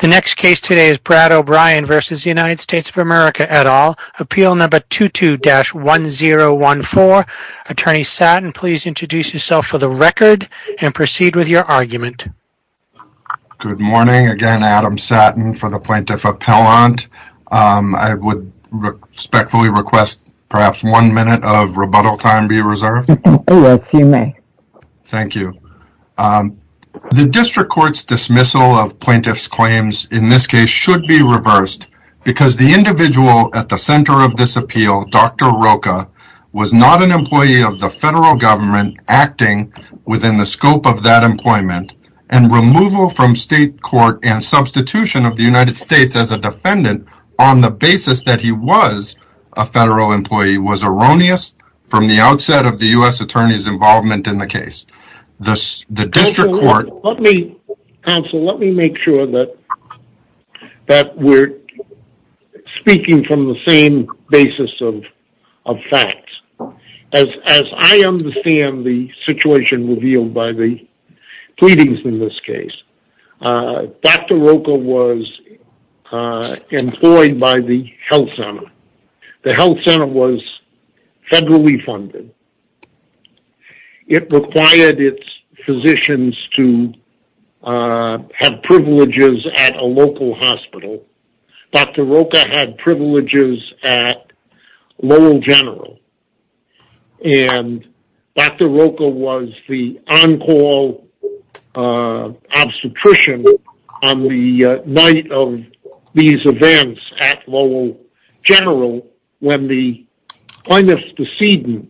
The next case today is Brad O'Brien v. United States of America et al. Appeal number 22-1014. Attorney Sattin, please introduce yourself for the record and proceed with your argument. Good morning. Again, Adam Sattin for the Plaintiff Appellant. I would respectfully request perhaps one minute of rebuttal time be in this case should be reversed because the individual at the center of this appeal, Dr. Rocha, was not an employee of the federal government acting within the scope of that employment and removal from state court and substitution of the United States as a defendant on the basis that he was a federal employee was erroneous from the outset of the U.S. Attorney's involvement in the case. Counsel, let me make sure that we're speaking from the same basis of facts. As I understand the situation revealed by the pleadings in this case, Dr. Rocha was employed by the health center. The health center was federally funded. It required its physicians to have privileges at a local hospital. Dr. Rocha had privileges at Lowell General. And Dr. Rocha was the on-call obstetrician on the night of these events at Lowell General when the plaintiff's decedent,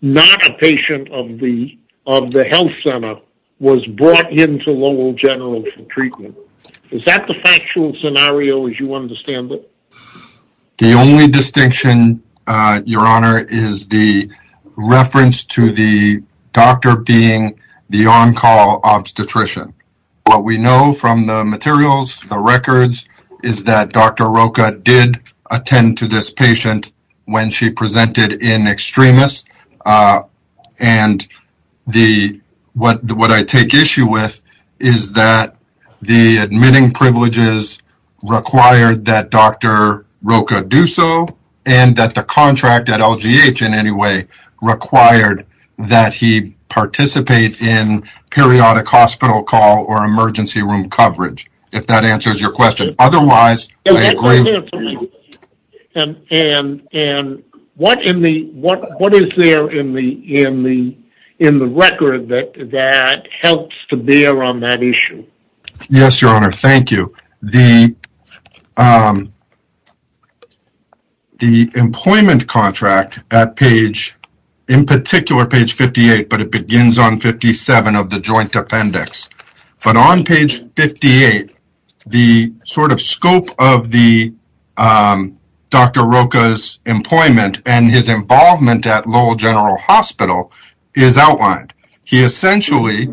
not a patient of the health center, was brought into Lowell General for treatment. Is that the factual scenario as you understand it? The only distinction, your honor, is the reference to the doctor being the on-call obstetrician. What we know from the materials, the records, is that Dr. Rocha did attend to this patient when she presented in extremis. And what I take issue with is that the admitting privileges required that Dr. Rocha do so and that the contract at LGH in any way required that he participate in periodic hospital call or emergency room coverage, if that answers your question. Otherwise, I agree. And what is there in the record that helps to bear on that issue? Yes, your honor, thank you. The employment contract at page, in particular page 58, but it 58, the sort of scope of the Dr. Rocha's employment and his involvement at Lowell General Hospital is outlined. He essentially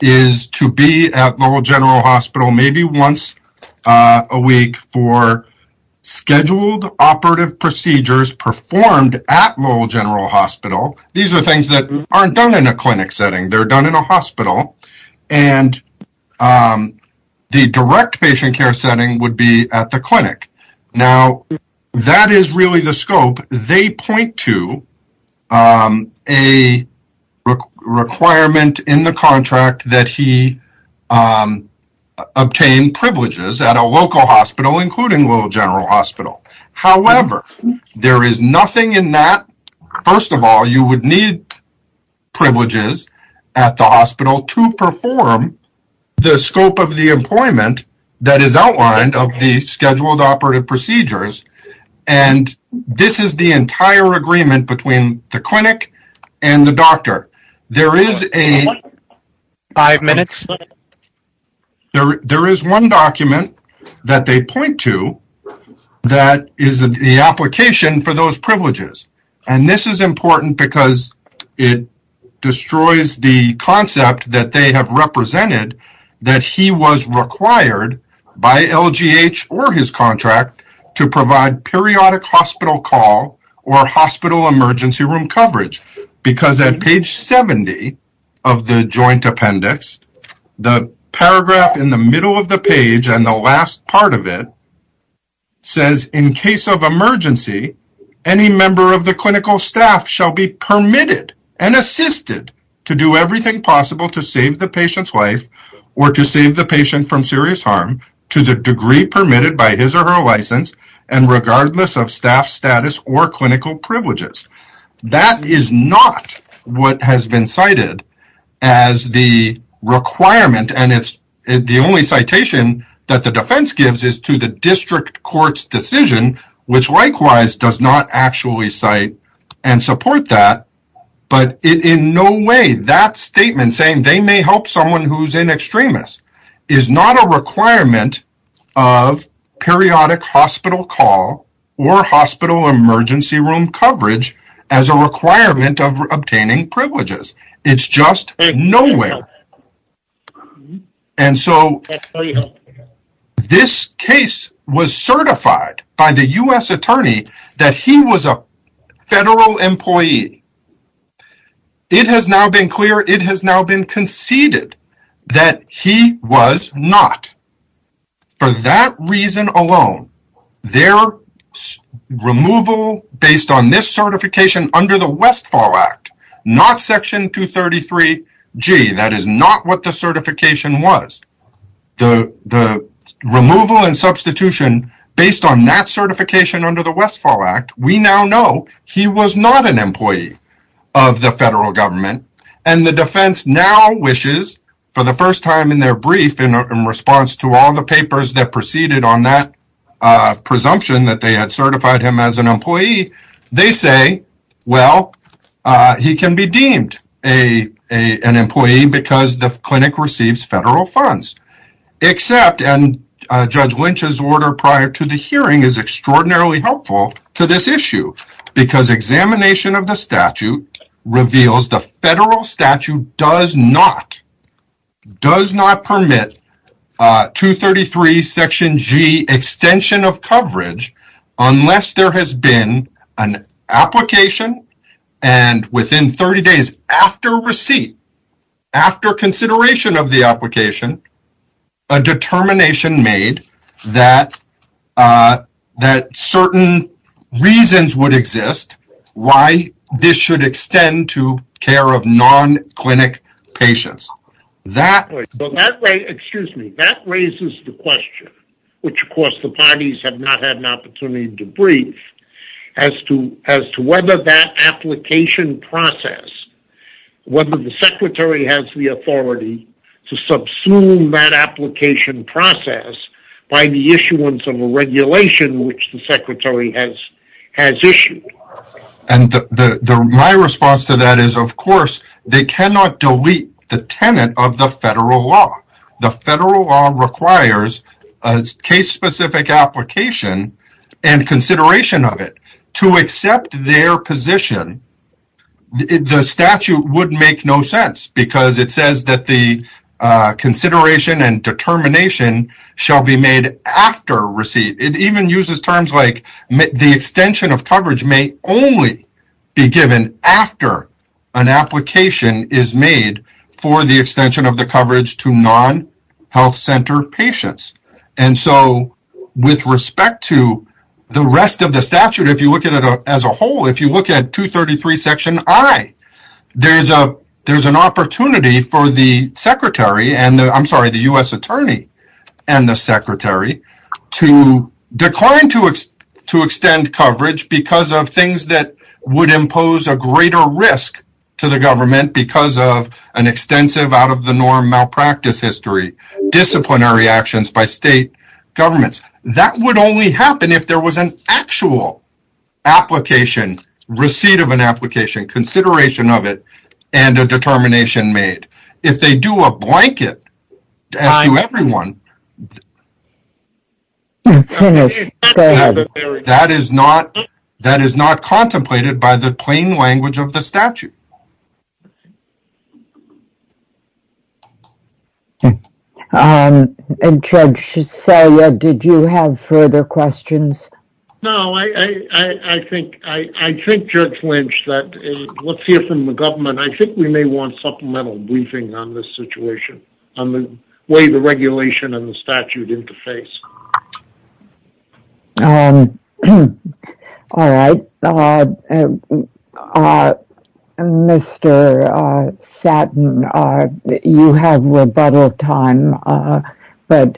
is to be at Lowell General Hospital maybe once a week for scheduled operative procedures performed at Lowell General Hospital. These are things that aren't done in a clinic setting, they're the direct patient care setting would be at the clinic. Now, that is really the scope. They point to a requirement in the contract that he obtain privileges at a local hospital, including Lowell General Hospital. However, there is nothing in that. First of all, you would need privileges at the hospital to perform the scope of the employment that is outlined of the scheduled operative procedures, and this is the entire agreement between the clinic and the doctor. There is a five minutes, there is one document that they point to that is the application for those privileges, and this is important because it destroys the concept that they have represented that he was required by LGH or his contract to provide periodic hospital call or hospital emergency room coverage, because at page 70 of the joint appendix, the paragraph in the middle of it says, in case of emergency, any member of the clinical staff shall be permitted and assisted to do everything possible to save the patient's life or to save the patient from serious harm to the degree permitted by his or her license and regardless of staff status or clinical privileges. That is not what has been cited as the requirement, and it's the only citation that the defense gives is to the district court's decision, which likewise does not actually cite and support that, but in no way that statement saying they may help someone who's an extremist is not a requirement of periodic hospital call or hospital emergency room coverage as a requirement of obtaining privileges. It's just nowhere, and so this case was certified by the U.S. attorney that he was a federal employee. It has now been clear, it has now been conceded that he was not. For that reason alone, their removal based on this certification under the Westfall Act, we now know he was not an employee of the federal government, and the defense now wishes, for the first time in their brief in response to all the papers that preceded on that presumption that they had certified him as an employee, they say, well, he can be deemed an employee because the clinic receives federal funds. Except, and Judge Lynch's order prior to the hearing is extraordinarily helpful to this issue, because examination of the statute reveals the federal statute does not does not permit 233 section G extension of coverage unless there has been an after consideration of the application, a determination made that certain reasons would exist why this should extend to care of non-clinic patients. That raises the question, which of course the parties have not had an opportunity to brief, as to whether that application process, whether the Secretary has the authority to subsume that application process by the issuance of a regulation which the Secretary has issued. And my response to that is, of course, they cannot delete the tenant of the federal law. The federal law requires a case-specific application and consideration of it. To accept their position, the statute would make no sense because it says that the consideration and determination shall be made after receipt. It even uses terms like the extension of coverage may only be given after an application is made for the extension of the coverage to non-health center patients. And so with respect to the rest of the statute, if you look at it as a whole, if you look at 233 section I, there's an opportunity for the U.S. Attorney and the Secretary to decline to extend coverage because of things that would impose a greater risk to the government because of an extensive out-of-the-norm malpractice history, disciplinary actions by state governments. That would only happen if there was an actual application, receipt of an application, consideration of it, and a determination made. If they do a blanket to everyone, that is not contemplated by the plain language of the statute. And Judge Salia, did you have further questions? No, I think Judge Lynch that what's here from the government, I think we may want supplemental briefing on this situation, on the way the regulation and the statute interface. All right, Mr. Satton, you have rebuttal time, but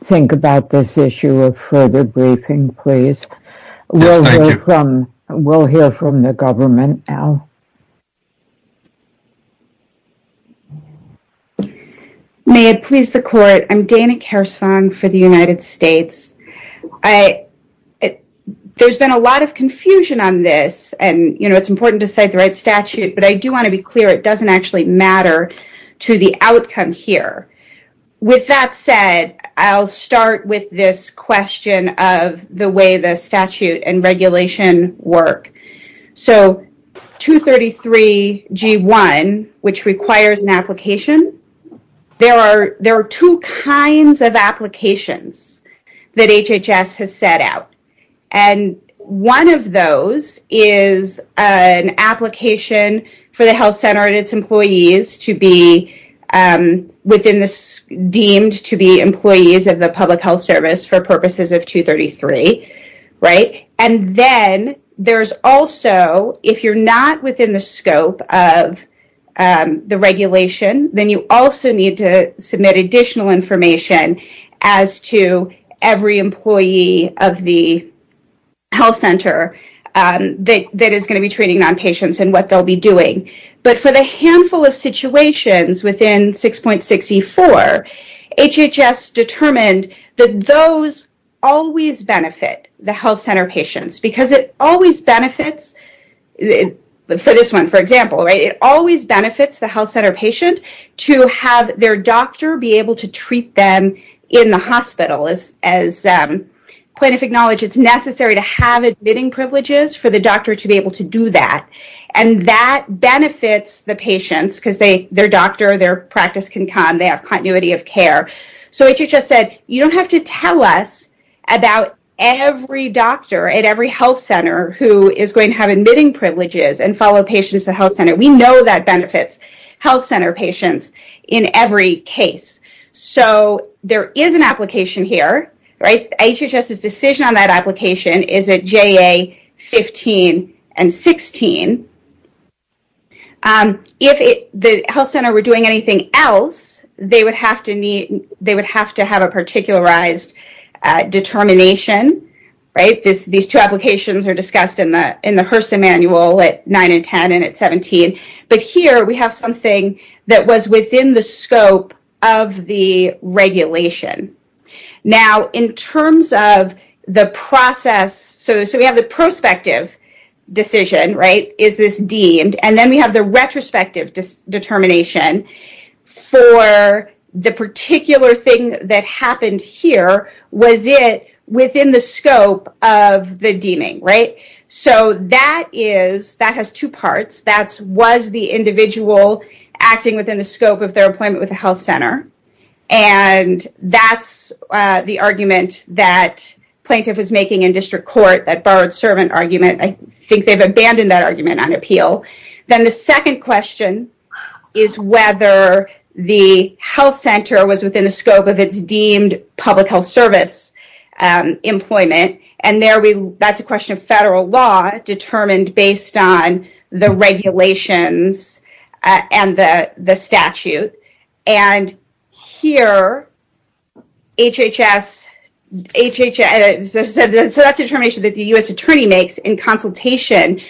think about this issue of further briefing, please. We'll hear from the government now. May it please the court, I'm Dana Kersvang for the United States. There's been a lot of confusion on this and, you know, it's important to cite the right statute, but I do want to be clear it doesn't actually matter to the outcome here. With that said, I'll start with this question of the way the statute and G1, which requires an application, there are there are two kinds of applications that HHS has set out. And one of those is an application for the health center and its employees to be within this deemed to be employees of the Public Health Service for purposes of 233, right? And then there's also, if you're not within the scope of the regulation, then you also need to submit additional information as to every employee of the health center that is going to be treating non-patients and what they'll be doing. But for the handful of situations within 6.64, HHS determined that those always benefit the health center patient to have their doctor be able to treat them in the hospital. As plaintiff acknowledged, it's necessary to have admitting privileges for the doctor to be able to do that. And that benefits the patients because their doctor, their practice can come, they have continuity of care. So HHS said, you don't have to tell us about every doctor at every health center who is going to have patients at health center. We know that benefits health center patients in every case. So there is an application here, right? HHS's decision on that application is at JA 15 and 16. If the health center were doing anything else, they would have to have a particularized determination, right? These two applications are discussed in the HRSA manual at 9 and 10 and at 17. But here, we have something that was within the scope of the regulation. Now, in terms of the process, so we have the prospective decision, right? Is this deemed? And then we have the retrospective determination for the particular thing that happened here. Was it within the scope of their employment with a health center? And that's the argument that plaintiff was making in district court, that borrowed servant argument. I think they've abandoned that argument on appeal. Then the second question is whether the health center was within the scope of its deemed public health service employment. And there, that's a question of federal law determined based on the regulations and the statute. And here, HHS, so that's a determination that the U.S. attorney makes in consultation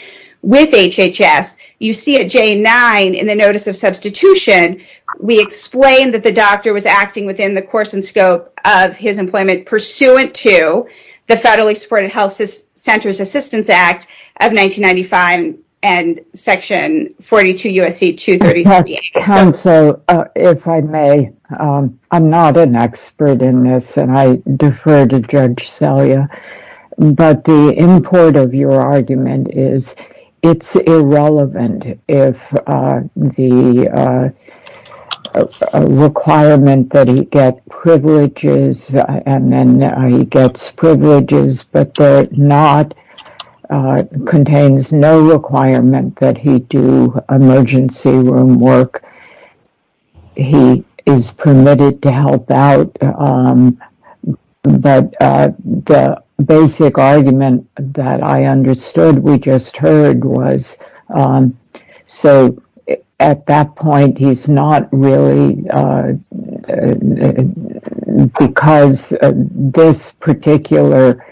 with HHS. You see at JA 9 in the notice of substitution, we explain that the doctor was acting within the course and scope of his employment pursuant to the federally supported Health Centers Assistance Act of 1995 and Section 42 U.S.C. 238. Counsel, if I may, I'm not an expert in this and I defer to Judge Celia, but the import of your argument is it's irrelevant if the requirement that he get privileges and then he gets privileges, but the not contains no requirement that he do emergency room work. He is permitted to help out, but the basic argument that I understood we just heard was, so at that point, he's not really, because this particular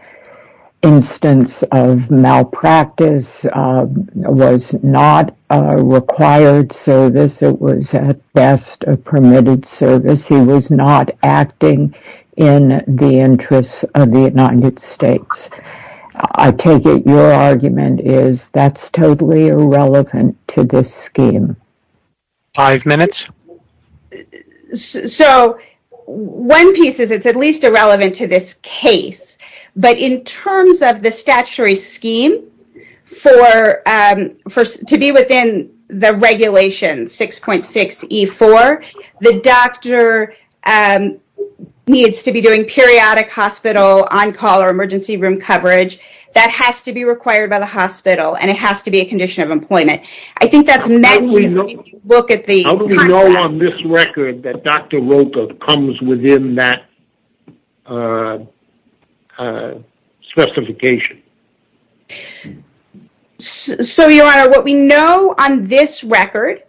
instance of malpractice was not a required service. It was, at best, a permitted service. He was not acting in the interests of the United States. I take it your argument is that's totally irrelevant to this scheme. Five minutes. So, one piece is it's at least irrelevant to this case, but in terms of the statutory scheme to be within the regulation 6.6E4, the doctor needs to be doing periodic hospital on-call or emergency room coverage. That has to be required by the hospital and it has to be a condition of employment. I think that's mentioned. How do we know on this record that Dr. Rocha comes within that specification? So, Your Honor, what we know on this record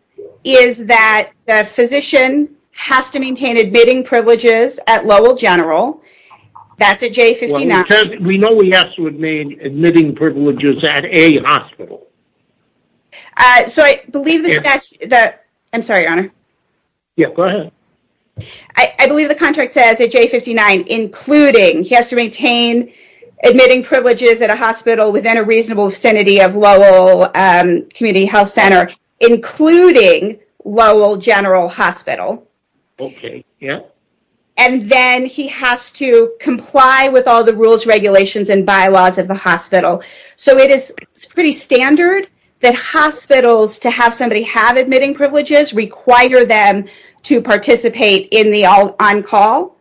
is that the physician has to maintain admitting privileges at Lowell General. That's a J59. We know he has to remain admitting privileges at a hospital. So, I believe the statute that... I'm sorry, Your Honor. Yeah, go ahead. I believe the contract says a J59, including he has to maintain admitting privileges at a hospital within a reasonable vicinity of Lowell Community Health Center, including Lowell General Hospital. Okay, yeah. And then, he has to comply with all the rules, regulations, and bylaws of the hospital. So, it is pretty standard that hospitals, to have somebody have admitting privileges, require them to participate in the on-call.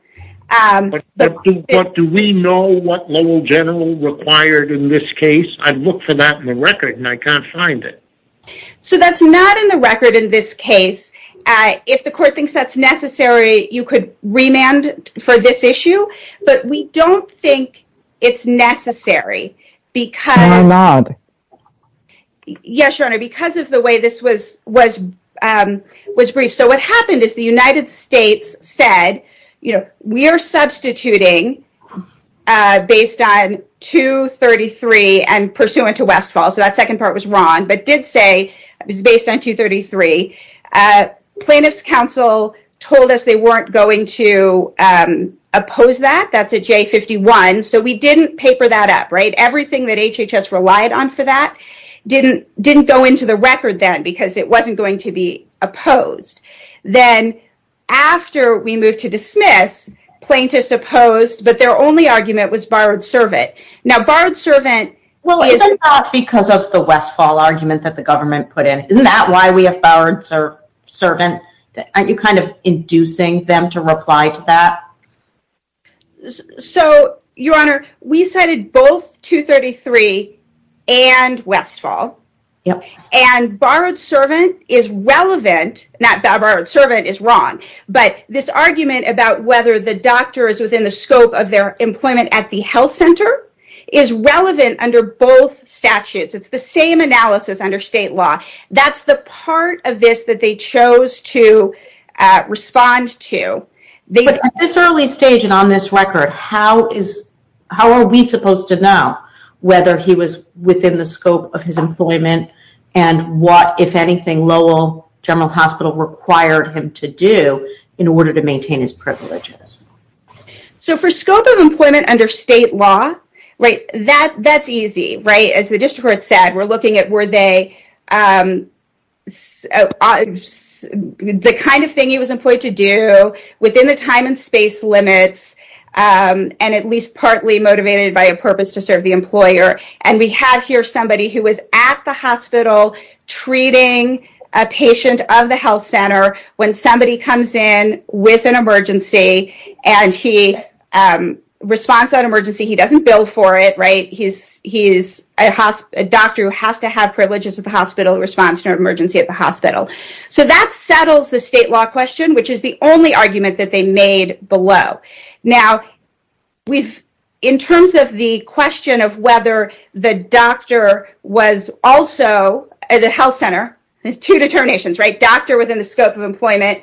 But do we know what Lowell General required in this case? I've looked for that in the record in this case. If the court thinks that's necessary, you could remand for this issue, but we don't think it's necessary because... No, I'm not. Yes, Your Honor, because of the way this was briefed. So, what happened is the United States said, you know, we are substituting based on 233 and pursuant to Westfall. So, that second part was wrong, but did say it was based on 233. Plaintiff's counsel told us they weren't going to oppose that. That's a J51. So, we didn't paper that up, right? Everything that HHS relied on for that didn't go into the record then because it wasn't going to be opposed. Then, after we moved to dismiss, plaintiffs opposed, but their only argument was borrowed servant. Now, borrowed servant... Well, it's not because of the Westfall argument that the government put in. Isn't that why we have borrowed servant? Aren't you kind of inducing them to reply to that? So, Your Honor, we cited both 233 and Westfall, and borrowed servant is relevant. Not borrowed servant is wrong, but this argument about whether the doctor is within the scope of their employment at the health center is relevant under both statutes. It's the same analysis under state law. That's the part of this that they chose to respond to. But, at this early stage and on this record, how are we supposed to know whether he was within the scope of his employment and what, if anything, Lowell General Hospital required him to do in order to maintain his privileges? So, for scope of employment under state law, that's easy, right? As the district court said, we're looking at were they... the kind of thing he was employed to do within the time and space limits, and at least partly motivated by a purpose to serve the employer, and we have here somebody who was at the hospital treating a patient of the health center when somebody comes in with an emergency, and he responds to that emergency. He doesn't bill for it, right? He's a doctor who has to have privileges at the hospital response to an emergency at the hospital. So, that settles the state law question, which is the only argument that they made below. Now, in terms of the question of whether the doctor was also at the health center, there's two determinations, right? Doctor within the scope of employment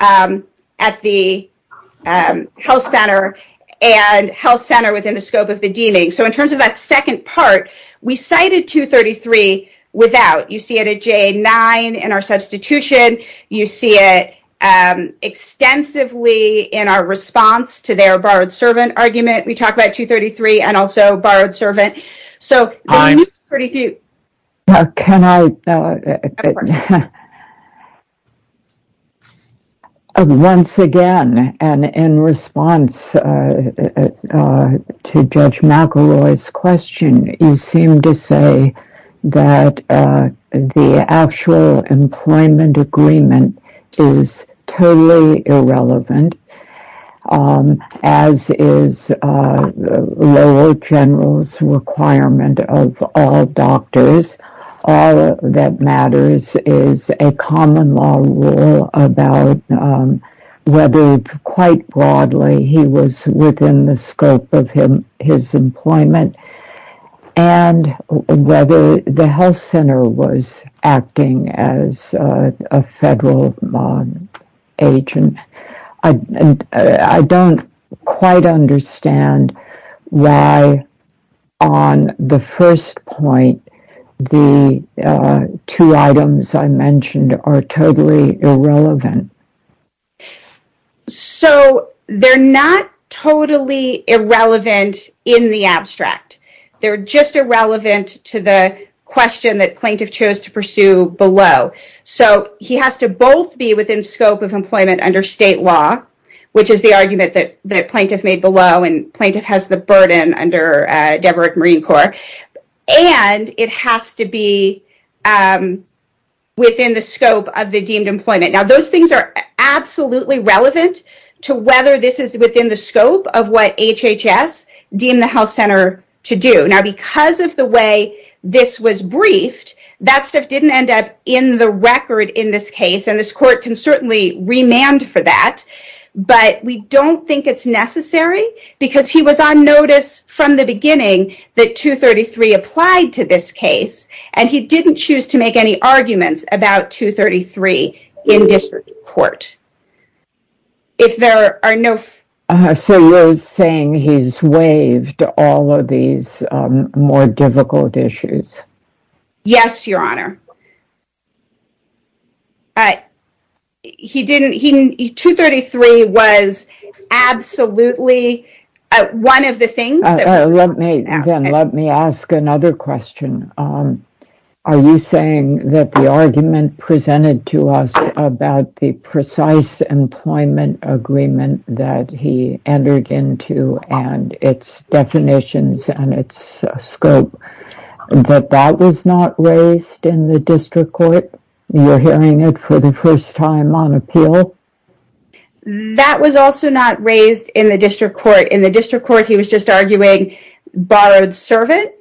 at the health center and health center within the scope of the deeming. So, in terms of that second part, we cited 233 without. You see it at JA-9 in our substitution. You see it extensively in our response to their borrowed servant argument. We talked about 233 and also borrowed servant. So, once again, and in response to Judge McElroy's question, you seem to say that the actual employment agreement is totally irrelevant, as is lower general's requirement of all doctors. All that matters is a common law rule about whether, quite broadly, he was within the scope of his employment and whether the health center was acting as a federal agent. I don't quite understand why, on the first point, the two items I mentioned are totally irrelevant. So, they're not totally irrelevant in the abstract. They're just irrelevant to the question that plaintiff chose to pursue below. So, he has to both be within scope of employment under state law, which is the argument that the plaintiff made below and plaintiff has the burden under Deborah at Marine Corps, and it has to be within the scope of the deemed employment. Now, those things are absolutely relevant to whether this is within the scope of what HHS deemed the health center to do. Now, because of the way this was briefed, that stuff didn't end up in the record in this case, and this court can certainly remand for that, but we don't think it's necessary because he was on notice from the beginning that 233 applied to this case, and he didn't choose to make any arguments about 233 in district court. If there are no... So, you're saying he's waived all of these more difficult issues? Yes, Your Honor. He didn't... He... 233 was absolutely one of the things that... Let me ask another question. Are you saying that the argument presented to us about the precise employment agreement that he entered into and its definitions and its scope, that that was not raised in the district court? You're hearing it for the first time on appeal? That was also not raised in the district court. In the district court, he was just arguing borrowed servant.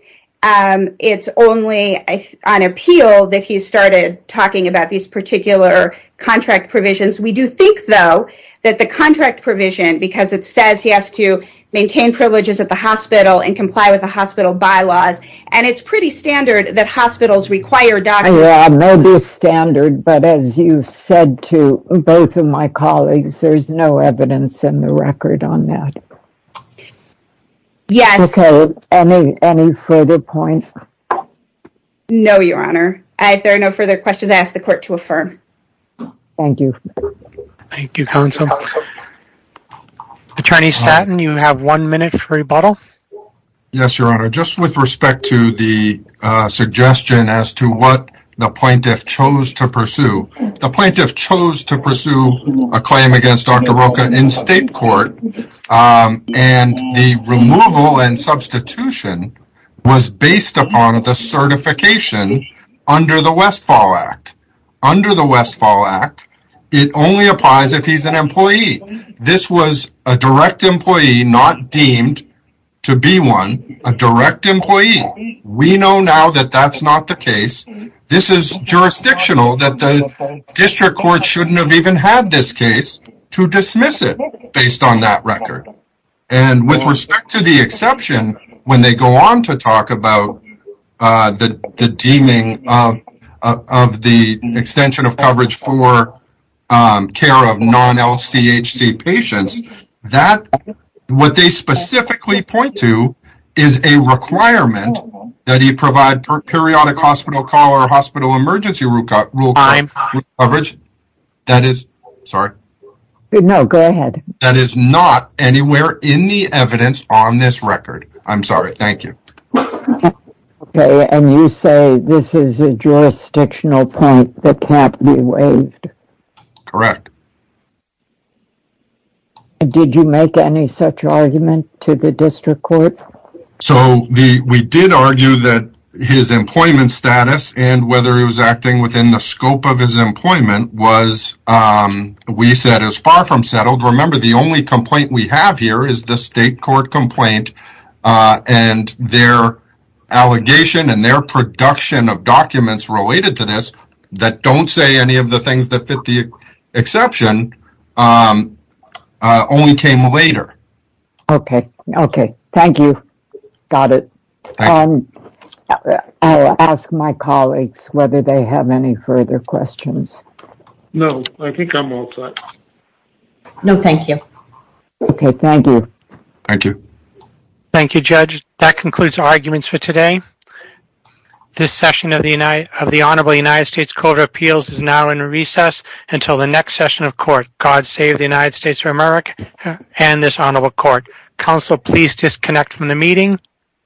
It's only on appeal that he started talking about these particular contract provisions. We do think, though, that the contract provision, because it says he has to maintain privileges at the hospital and comply with the hospital bylaws, and it's pretty standard that hospitals require doctors... Yeah, it may be standard, but as you've said to both of my colleagues, there's no evidence in the record on that. Yes. Okay, any further points? No, Your Honor. If there are no further questions, I ask the court to affirm. Thank you. Thank you, counsel. Attorney Statton, you have one minute for rebuttal. Yes, Your Honor. Just with respect to the suggestion as to what the plaintiff chose to pursue, the plaintiff chose to pursue a claim against Dr. was based upon the certification under the Westfall Act. Under the Westfall Act, it only applies if he's an employee. This was a direct employee, not deemed to be one, a direct employee. We know now that that's not the case. This is jurisdictional, that the district court shouldn't have even had this case to With respect to the exception, when they go on to talk about the deeming of the extension of coverage for care of non-LCHC patients, what they specifically point to is a requirement that he provide per periodic hospital call or hospital emergency rule coverage. That is... Sorry. No, go ahead. That is not anywhere in the evidence on this record. I'm sorry. Thank you. Okay, and you say this is a jurisdictional point that can't be waived. Correct. Did you make any such argument to the district court? So, we did argue that his employment status and whether he was acting within the scope of his the only complaint we have here is the state court complaint and their allegation and their production of documents related to this that don't say any of the things that fit the exception only came later. Okay, okay. Thank you. Got it. I'll ask my colleagues whether they have any further questions. No, I think I'm all set. No, thank you. Okay, thank you. Thank you. Thank you, Judge. That concludes our arguments for today. This session of the Honorable United States Court of Appeals is now in recess until the next session of court. God save the United States of America and this Honorable Court. Counsel, please disconnect from the meeting.